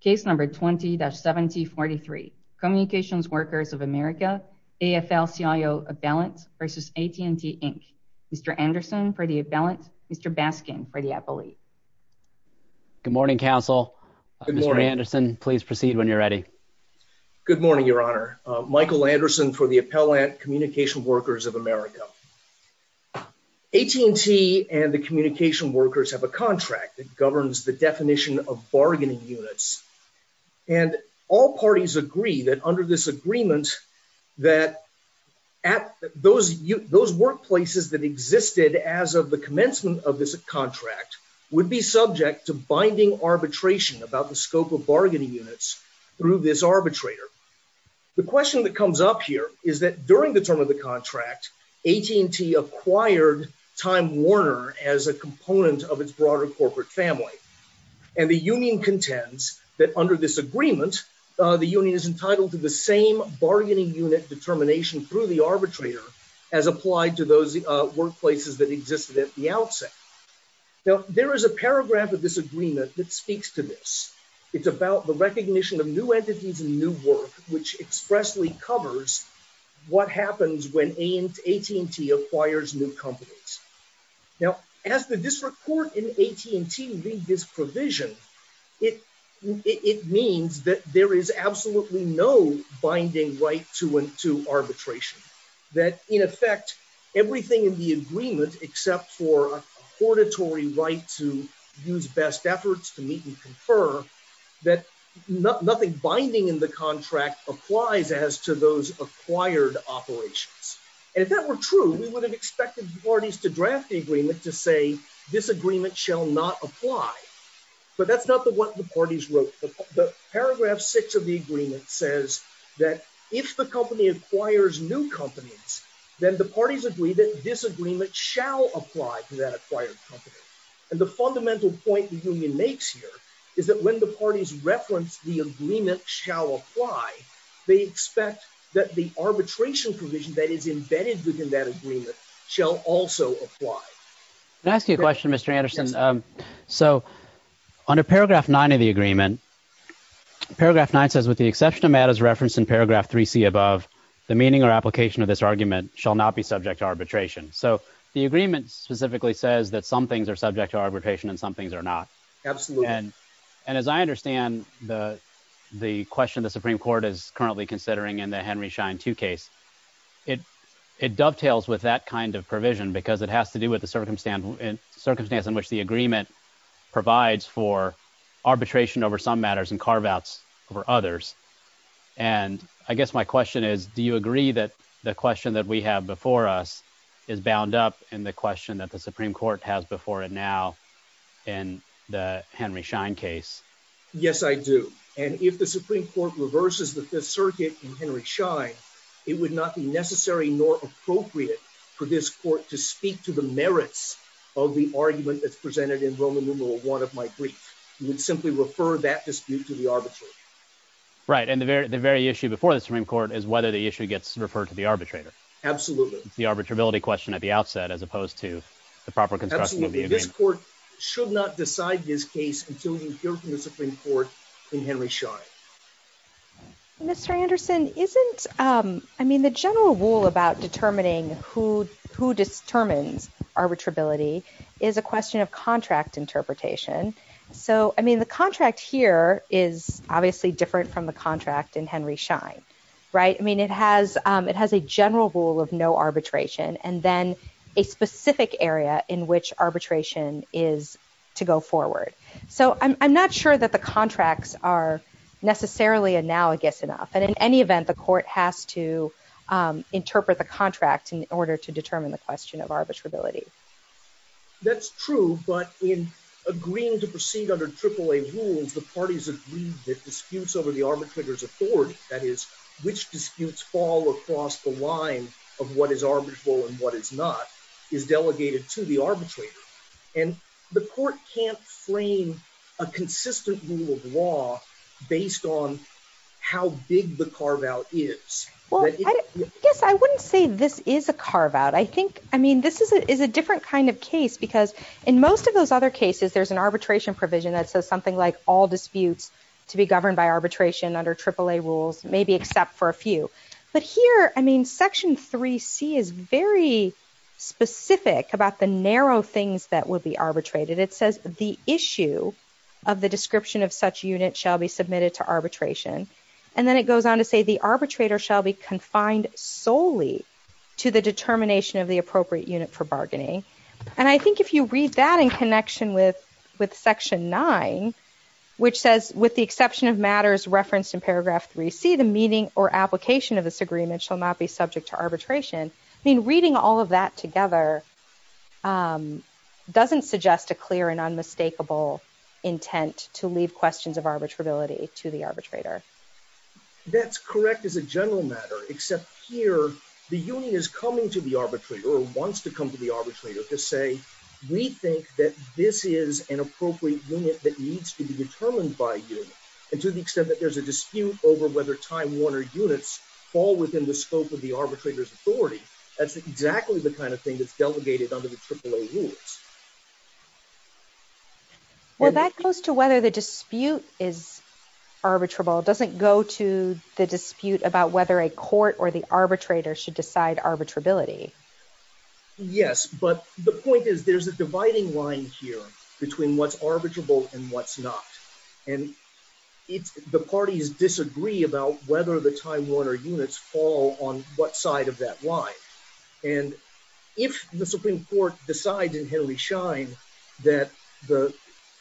Case number 20-7043. Communications Workers of America, AFL-CIO Appellant versus AT&T Inc. Mr. Anderson for the appellant, Mr. Baskin for the appellee. Good morning, counsel. Mr. Anderson, please proceed when you're ready. Good morning, your honor. Michael Anderson for the Appellant Communication Workers of America. AT&T and the communication workers have a contract that governs the definition of bargaining units and all parties agree that under this agreement that those workplaces that existed as of the commencement of this contract would be subject to binding arbitration about the scope of bargaining units through this arbitrator. The question that comes up here is that during the term of the contract, AT&T acquired Time Warner as a component of its broader corporate family and the union contends that under this agreement the union is entitled to the same bargaining unit determination through the arbitrator as applied to those workplaces that existed at the outset. Now there is a paragraph of this agreement that speaks to this. It's about the recognition of new entities and new work which expressly covers what happens when AT&T acquires new companies. Now as the district court in AT&T read this provision, it means that there is absolutely no binding right to arbitration. That in effect everything in the agreement except for auditory right to use best efforts to meet and confer that nothing binding in the contract applies as to those acquired operations and if that were true we would have expected parties to draft the agreement to say this agreement shall not apply but that's not the what the parties wrote. The paragraph six of the agreement says that if the company acquires new companies then the parties agree that this agreement shall apply to that acquired company and the fundamental point the union makes here is that when the parties reference the agreement shall apply they expect that the arbitration provision that is embedded within that agreement shall also apply. Can I ask you a question Mr. Anderson? Yes. So under paragraph nine of the agreement paragraph nine says with the exception of matters referenced in paragraph 3c above the meaning or application of this argument shall not be subject to arbitration. So the agreement specifically says that some things are subject to arbitration and some things are not. Absolutely and and as I understand the the question the Supreme Court is currently considering in the Henry Schein 2 case it it dovetails with that kind of provision because it has to do with the circumstance in circumstance in which the agreement provides for arbitration over some matters and carve outs over others and I guess my question is do you agree that the question that we have before us is bound up in the question that the Supreme Court has before it now in the Henry Schein case? Yes I do and if the Supreme Court reverses the fifth circuit in Henry Schein it would not be necessary nor appropriate for this court to speak to the merits of the argument that's presented in Roman numeral one of my brief. You would simply refer that dispute to the arbitrator. Right and the very the very issue before the Supreme Court is whether the issue gets referred to the arbitrator. Absolutely. It's the arbitrability question at the outset as opposed to the proper construction of the agreement. This court should not decide this case until you hear from the Supreme Court in Henry Schein. Mr. Anderson isn't I mean the general rule about determining who who determines arbitrability is a question of contract interpretation. So I mean the contract here is obviously different from the contract in Henry Schein right? I mean it has it has a general rule of no arbitration and then a specific area in which arbitration is to go forward. So I'm not sure that the contracts are necessarily analogous enough and in any event the court has to interpret the contract in order to determine the question of arbitrability. That's true but in agreeing to proceed under AAA rules the parties agree that arbitrator's authority that is which disputes fall across the line of what is arbitrable and what is not is delegated to the arbitrator and the court can't frame a consistent rule of law based on how big the carve-out is. Well I guess I wouldn't say this is a carve-out. I think I mean this is a different kind of case because in most of those other cases there's an arbitration provision that says something like all disputes to be governed by arbitration under AAA rules maybe except for a few. But here I mean section 3c is very specific about the narrow things that would be arbitrated. It says the issue of the description of such unit shall be submitted to arbitration and then it goes on to say the arbitrator shall be confined solely to the determination of the appropriate unit for bargaining. And I think if you read that in section 9 which says with the exception of matters referenced in paragraph 3c the meaning or application of this agreement shall not be subject to arbitration. I mean reading all of that together doesn't suggest a clear and unmistakable intent to leave questions of arbitrability to the arbitrator. That's correct as a general matter except here the union is coming to the arbitrator or wants to come to the arbitrator to say we think that this is an appropriate unit that needs to be determined by you. And to the extent that there's a dispute over whether Time Warner units fall within the scope of the arbitrator's authority that's exactly the kind of thing that's delegated under the AAA rules. Well that goes to whether the dispute is arbitrable. It doesn't go to the dispute about whether a court or the arbitrator should decide arbitrability. Yes, but the point is there's a dividing line here between what's arbitrable and what's not. And it's the parties disagree about whether the Time Warner units fall on what side of that line. And if the Supreme Court decides in Henry Schein that the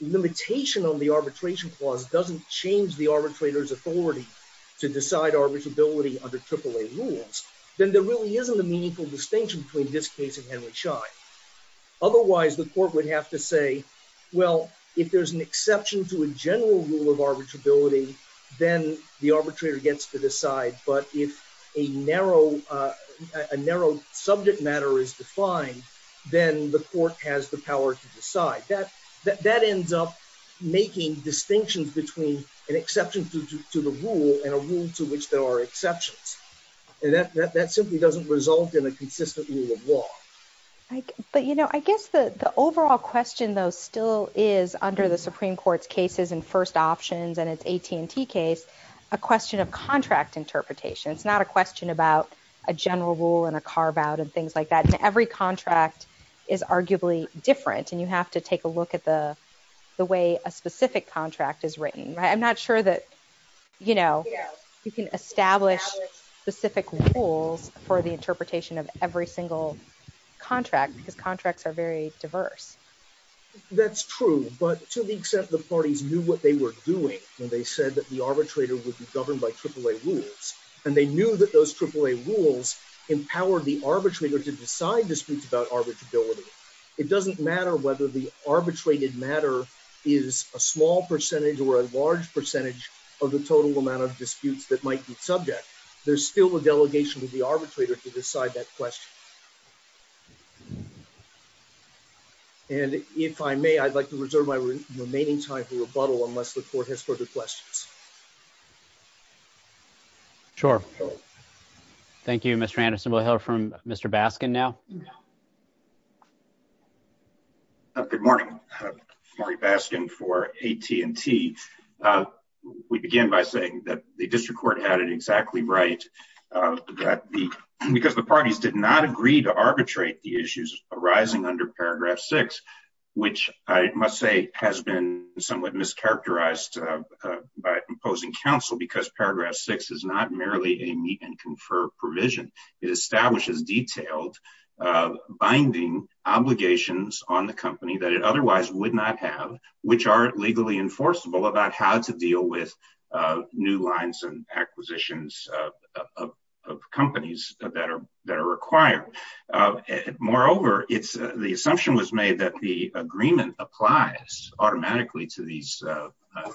limitation on the arbitration clause doesn't change the arbitrator's authority to decide arbitrability under AAA rules, then there really isn't a meaningful distinction between this case and Henry Schein. Otherwise the court would have to say well if there's an exception to a general rule of arbitrability then the arbitrator gets to decide. But if a narrow subject matter is defined then the court has the power to decide. That ends up making distinctions between an exception to the rule and a rule to which there are exceptions. And that simply doesn't result in a consistent rule of law. But you know I guess the overall question though still is under the Supreme Court's cases in first options and its AT&T case a question of contract interpretation. It's a question about a general rule and a carve out and things like that. And every contract is arguably different and you have to take a look at the way a specific contract is written. I'm not sure that you know you can establish specific rules for the interpretation of every single contract because contracts are very diverse. That's true but to the extent the parties knew what they were doing when they said that the arbitrator would be governed by AAA rules and they knew that those AAA rules empowered the arbitrator to decide disputes about arbitrability it doesn't matter whether the arbitrated matter is a small percentage or a large percentage of the total amount of disputes that might be subject. There's still a delegation with the arbitrator to decide that question. And if I may I'd like to reserve my remaining time for rebuttal unless the court has further questions. Sure. Thank you Mr. Anderson. We'll hear from Mr. Baskin now. Good morning. Marty Baskin for AT&T. We begin by saying that the district court had it exactly right because the parties did not agree to arbitrate the issues arising under paragraph six which I must say has been somewhat mischaracterized by opposing counsel because paragraph six is not merely a meet and confer provision. It establishes detailed binding obligations on the company that it otherwise would not have which are legally enforceable about how to deal with new lines and acquisitions of companies that are that are required. Moreover it's the assumption was made that the agreement applies automatically to these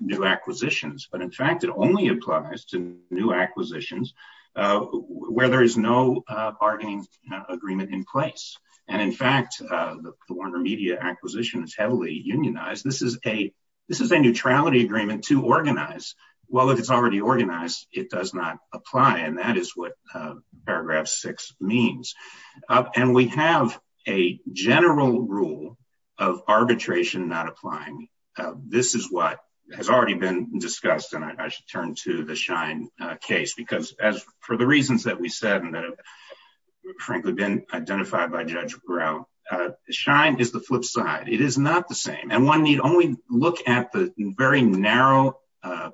new acquisitions but in fact it only applies to new acquisitions where there is no bargaining agreement in place and in fact the Warner Media acquisition is heavily unionized. This is a this is a neutrality agreement to organize. Well if it's already organized it does not apply and that is what paragraph six means. And we have a general rule of arbitration not applying. This is what has already been discussed and I should turn to the Shine case because as for the reasons that we said and that have frankly been identified by Judge Burrell. Shine is the flip side. It is not the same and one need only look at the very narrow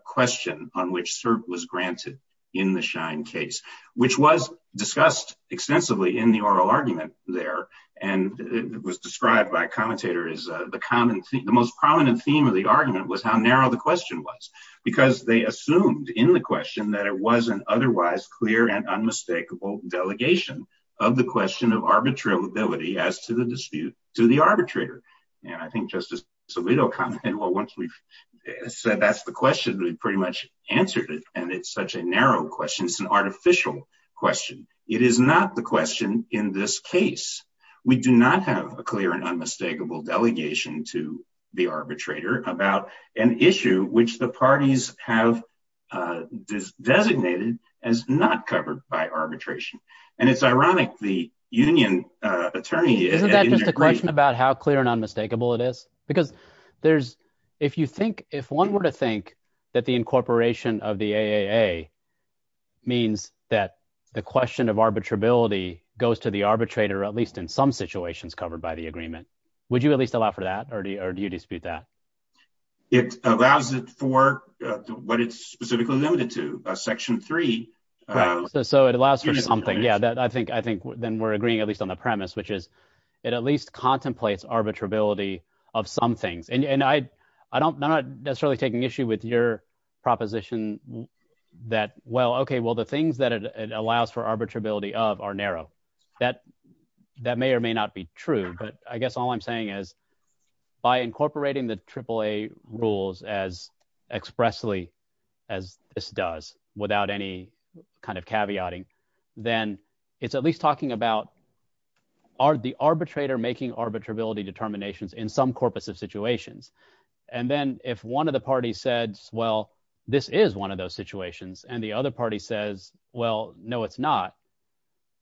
question on which cert was granted in the Shine case which was discussed extensively in the oral argument there and it described by commentator as the common the most prominent theme of the argument was how narrow the question was because they assumed in the question that it was an otherwise clear and unmistakable delegation of the question of arbitrability as to the dispute to the arbitrator. And I think Justice Alito commented well once we've said that's the question we pretty much answered it and it's such a narrow question it's an artificial question. It is not the question in this case. We do not have a clear and unmistakable delegation to the arbitrator about an issue which the parties have designated as not covered by arbitration and it's ironic the union attorney isn't that just a question about how clear and unmistakable it is because there's if you think if one were to think that the incorporation of the AAA means that the question of arbitrability goes to the arbitrator at least in some situations covered by the agreement would you at least allow for that or do you dispute that? It allows it for what it's specifically limited to a section three. So it allows for something yeah that I think then we're agreeing at least on the premise which is it at least contemplates arbitrability of some things and I'm not necessarily taking issue with your proposition that well okay well the are narrow that that may or may not be true but I guess all I'm saying is by incorporating the AAA rules as expressly as this does without any kind of caveating then it's at least talking about are the arbitrator making arbitrability determinations in some corpus of situations and then if one of the parties said well this is one of those situations and the other party says well no it's not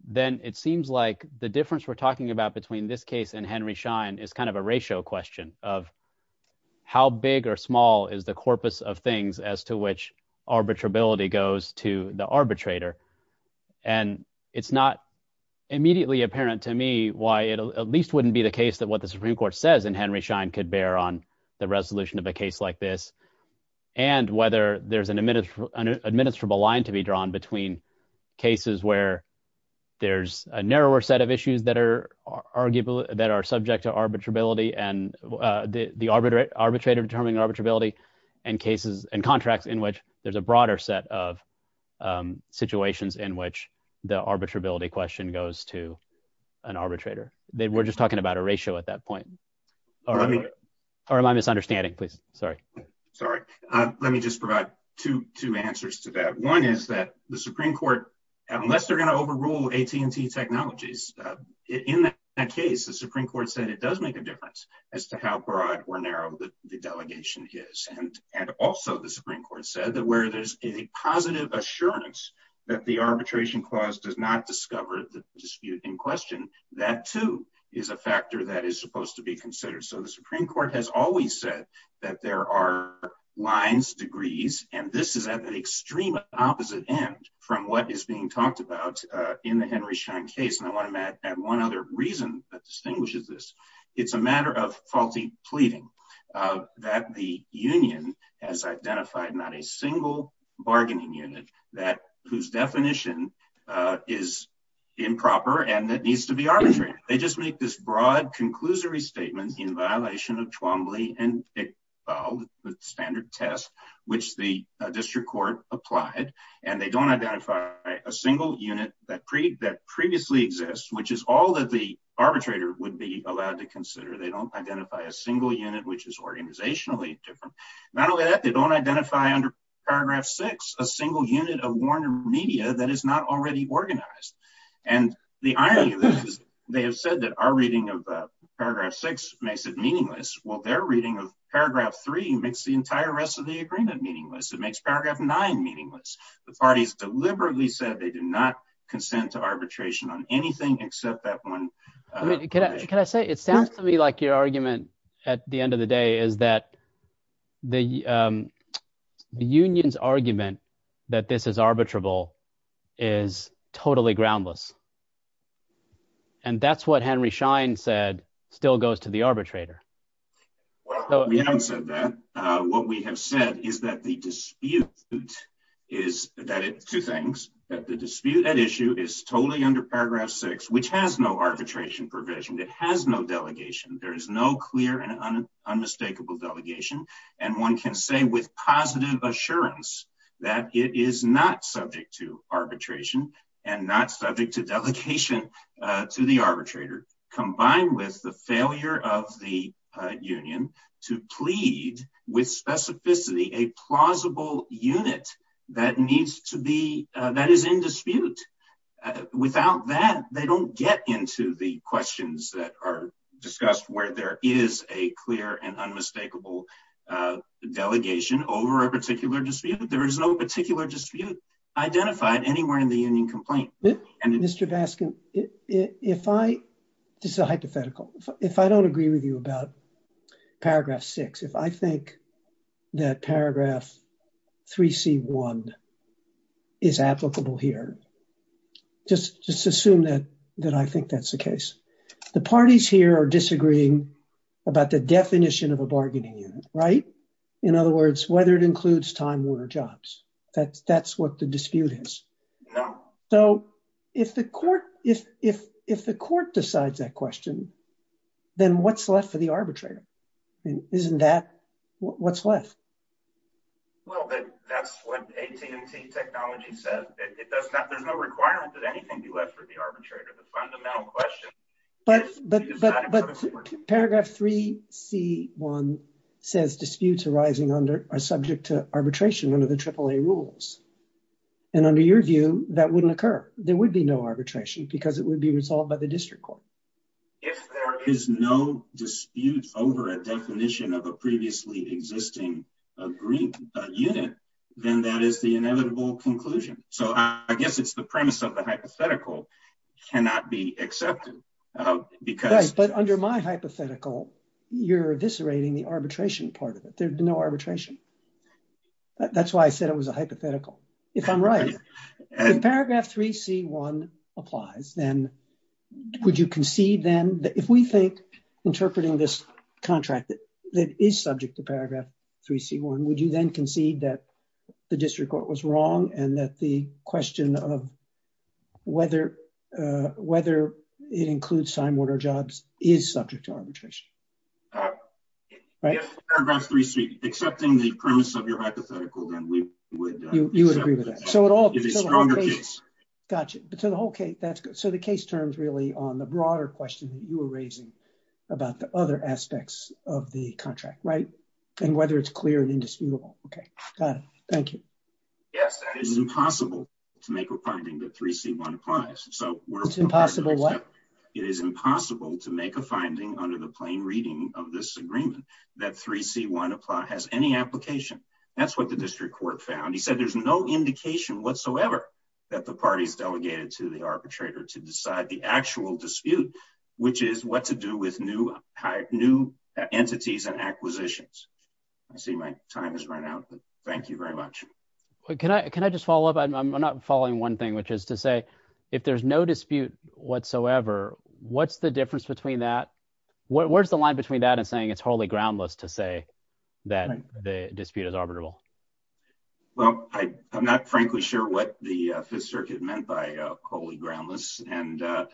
then it seems like the difference we're talking about between this case and Henry Schein is kind of a ratio question of how big or small is the corpus of things as to which arbitrability goes to the arbitrator and it's not immediately apparent to me why it at least wouldn't be the case that what the Supreme Court says in Henry Schein could bear on the cases where there's a narrower set of issues that are arguably that are subject to arbitrability and the arbiter arbitrator determining arbitrability and cases and contracts in which there's a broader set of situations in which the arbitrability question goes to an arbitrator they were just talking about a ratio at that point or my misunderstanding please sorry sorry let me just provide two two answers to that one is that the Supreme Court unless they're going to overrule AT&T technologies in that case the Supreme Court said it does make a difference as to how broad or narrow the delegation is and and also the Supreme Court said that where there's a positive assurance that the arbitration clause does not discover the dispute in question that too is a factor that is supposed to be considered so the Supreme Court has always said that there are lines degrees and this is at the extreme opposite end from what is being talked about in the Henry Schein case and I want to add one other reason that distinguishes this it's a matter of faulty pleading that the union has identified not a single bargaining unit that whose definition is improper and that needs to be arbitrary they just make this broad conclusory statement in violation of Twombly and Iqbal the standard test which the district court applied and they don't identify a single unit that pre that previously exists which is all that the arbitrator would be allowed to consider they don't identify a single unit which is organizationally different not only that they don't identify under paragraph six a single unit of warner media that is not already organized and the irony of this is they have said that our reading of paragraph six makes it meaningless well their reading of paragraph three makes the entire rest of the agreement meaningless it makes paragraph nine meaningless the party's deliberately said they do not consent to arbitration on anything except that one can I say it sounds to me like your argument at the end of the day is that the um the union's argument that this is arbitrable is totally groundless and that's what Henry Schein said still goes to the arbitrator well we haven't said that uh what we have said is that the dispute is that it's two things that the dispute at issue is totally under paragraph six which has no arbitration provision it has no delegation there is no clear and unmistakable delegation and one can say with positive assurance that it is not subject to arbitration and not subject to delegation uh to the arbitrator combined with the failure of the union to plead with specificity a plausible unit that needs to that is in dispute without that they don't get into the questions that are discussed where there is a clear and unmistakable delegation over a particular dispute there is no particular dispute identified anywhere in the union complaint and Mr. Baskin if I this is a hypothetical if I don't agree with you about paragraph six if I think that paragraph 3c1 is applicable here just just assume that that I think that's the case the parties here are disagreeing about the definition of a bargaining unit right in other words whether it includes time warner jobs that's that's what the dispute is no so if the court if if if the court decides that question then what's left for the arbitrator isn't that what's left well that that's what technology says it does not there's no requirement that anything be left for the arbitrator the fundamental question but but but paragraph 3c1 says disputes arising under are subject to arbitration under the triple a rules and under your view that wouldn't occur there would be no arbitration because it would be resolved by the district court if there is no dispute over a definition of a previously existing a green unit then that is the inevitable conclusion so I guess it's the premise of the hypothetical cannot be accepted because but under my hypothetical you're eviscerating the arbitration part of it there'd be no arbitration that's why I said it was a hypothetical if I'm right paragraph 3c1 applies then would you concede then that if we think interpreting this contract that that is subject to paragraph 3c1 would you then concede that the district court was wrong and that the question of whether uh whether it includes time order jobs is subject to arbitration right paragraph 3c3 accepting the premise of your hypothetical then we would you would agree with that so it all is a stronger case gotcha but so okay that's good so the case terms really on the broader question that you were raising about the other aspects of the contract right and whether it's clear and indisputable okay got it thank you yes it is impossible to make a finding that 3c1 applies so it's impossible what it is impossible to make a finding under the plain reading of this agreement that 3c1 apply has any application that's what the district court found he said there's no indication whatsoever that the party's delegated to the arbitrator to decide the actual dispute which is what to do with new new entities and acquisitions i see my time has run out but thank you very much can i can i just follow up i'm not following one thing which is to say if there's no dispute whatsoever what's the difference between that what where's the line between that and saying it's wholly groundless to that the dispute is arbitrable well i i'm not frankly sure what the fifth circuit meant by wholly groundless and uh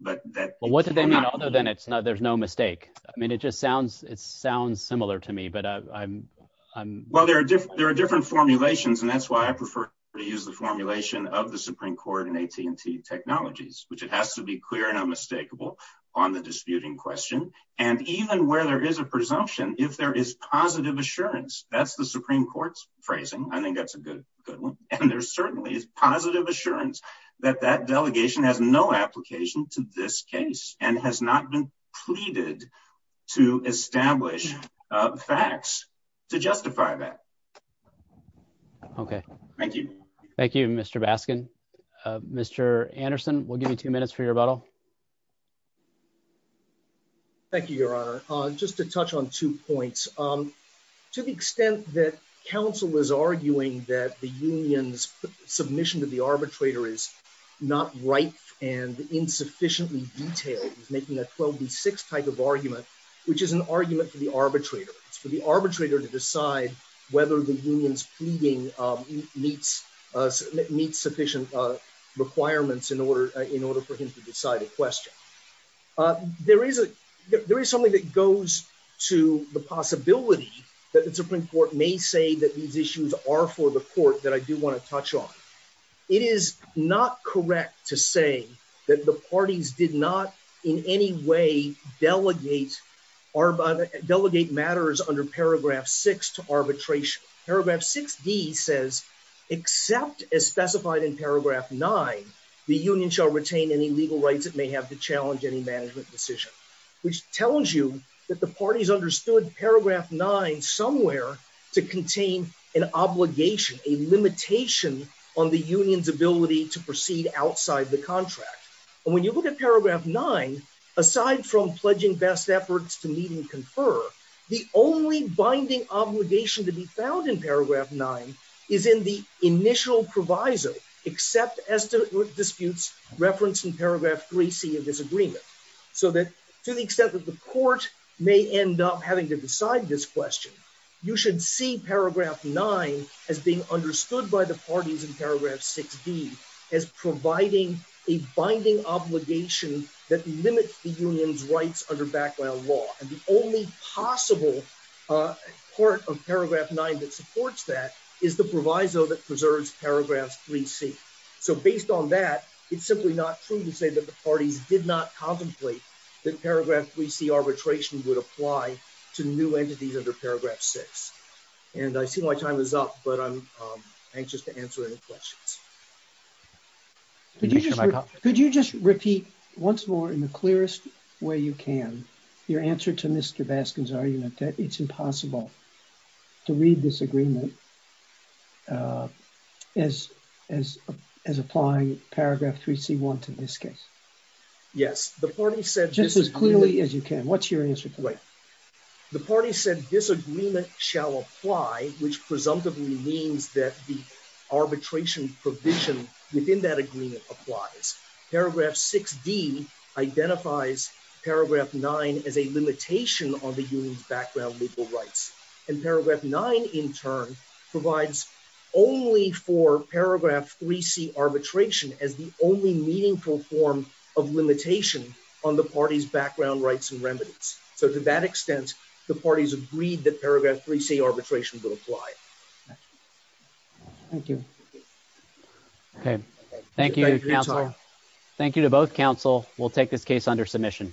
but that well what do they mean other than it's not there's no mistake i mean it just sounds it sounds similar to me but i'm i'm well there are different there are different formulations and that's why i prefer to use the formulation of the supreme court in at&t technologies which it has to be clear and unmistakable on the disputing question and even where there is a presumption if there is positive assurance that's the supreme court's phrasing i think that's a good good one and there certainly is positive assurance that that delegation has no application to this case and has not been pleaded to establish facts to justify that okay thank you thank you mr baskin uh mr anderson we'll give you two minutes for your rebuttal thank you your honor uh just to touch on two points um to the extent that council is arguing that the union's submission to the arbitrator is not right and insufficiently detailed he's making a 12b6 type of argument which is an argument for the arbitrator it's for the arbitrator to decide whether the union's pleading um meets uh meets sufficient uh requirements in in order for him to decide a question uh there is a there is something that goes to the possibility that the supreme court may say that these issues are for the court that i do want to touch on it is not correct to say that the parties did not in any way delegate or delegate matters under paragraph six to arbitration paragraph 6d says except as specified in paragraph nine the union shall retain any legal rights it may have to challenge any management decision which tells you that the parties understood paragraph nine somewhere to contain an obligation a limitation on the union's ability to proceed outside the contract and when you look at paragraph nine aside from pledging best efforts to meet and confer the only binding obligation to be found in except as to disputes referenced in paragraph 3c of this agreement so that to the extent that the court may end up having to decide this question you should see paragraph 9 as being understood by the parties in paragraph 6d as providing a binding obligation that limits the union's rights under background law and the only possible uh part of paragraph 9 that supports that is the proviso that preserves paragraphs 3c so based on that it's simply not true to say that the parties did not contemplate that paragraph 3c arbitration would apply to new entities under paragraph 6 and i see my time is up but i'm anxious to answer any questions could you just repeat once more in the clearest way you can your answer to mr baskin's argument that it's impossible to read this agreement uh as as as applying paragraph 3c want in this case yes the party said just as clearly as you can what's your answer to wait the party said disagreement shall apply which presumptively means that the arbitration provision within that agreement applies paragraph 6d identifies paragraph 9 as a limitation on the union's background legal rights and paragraph 9 in turn provides only for paragraph 3c arbitration as the only meaningful form of limitation on the party's background rights and remedies so to that extent the parties agreed that paragraph 3c counsel will take this case under submission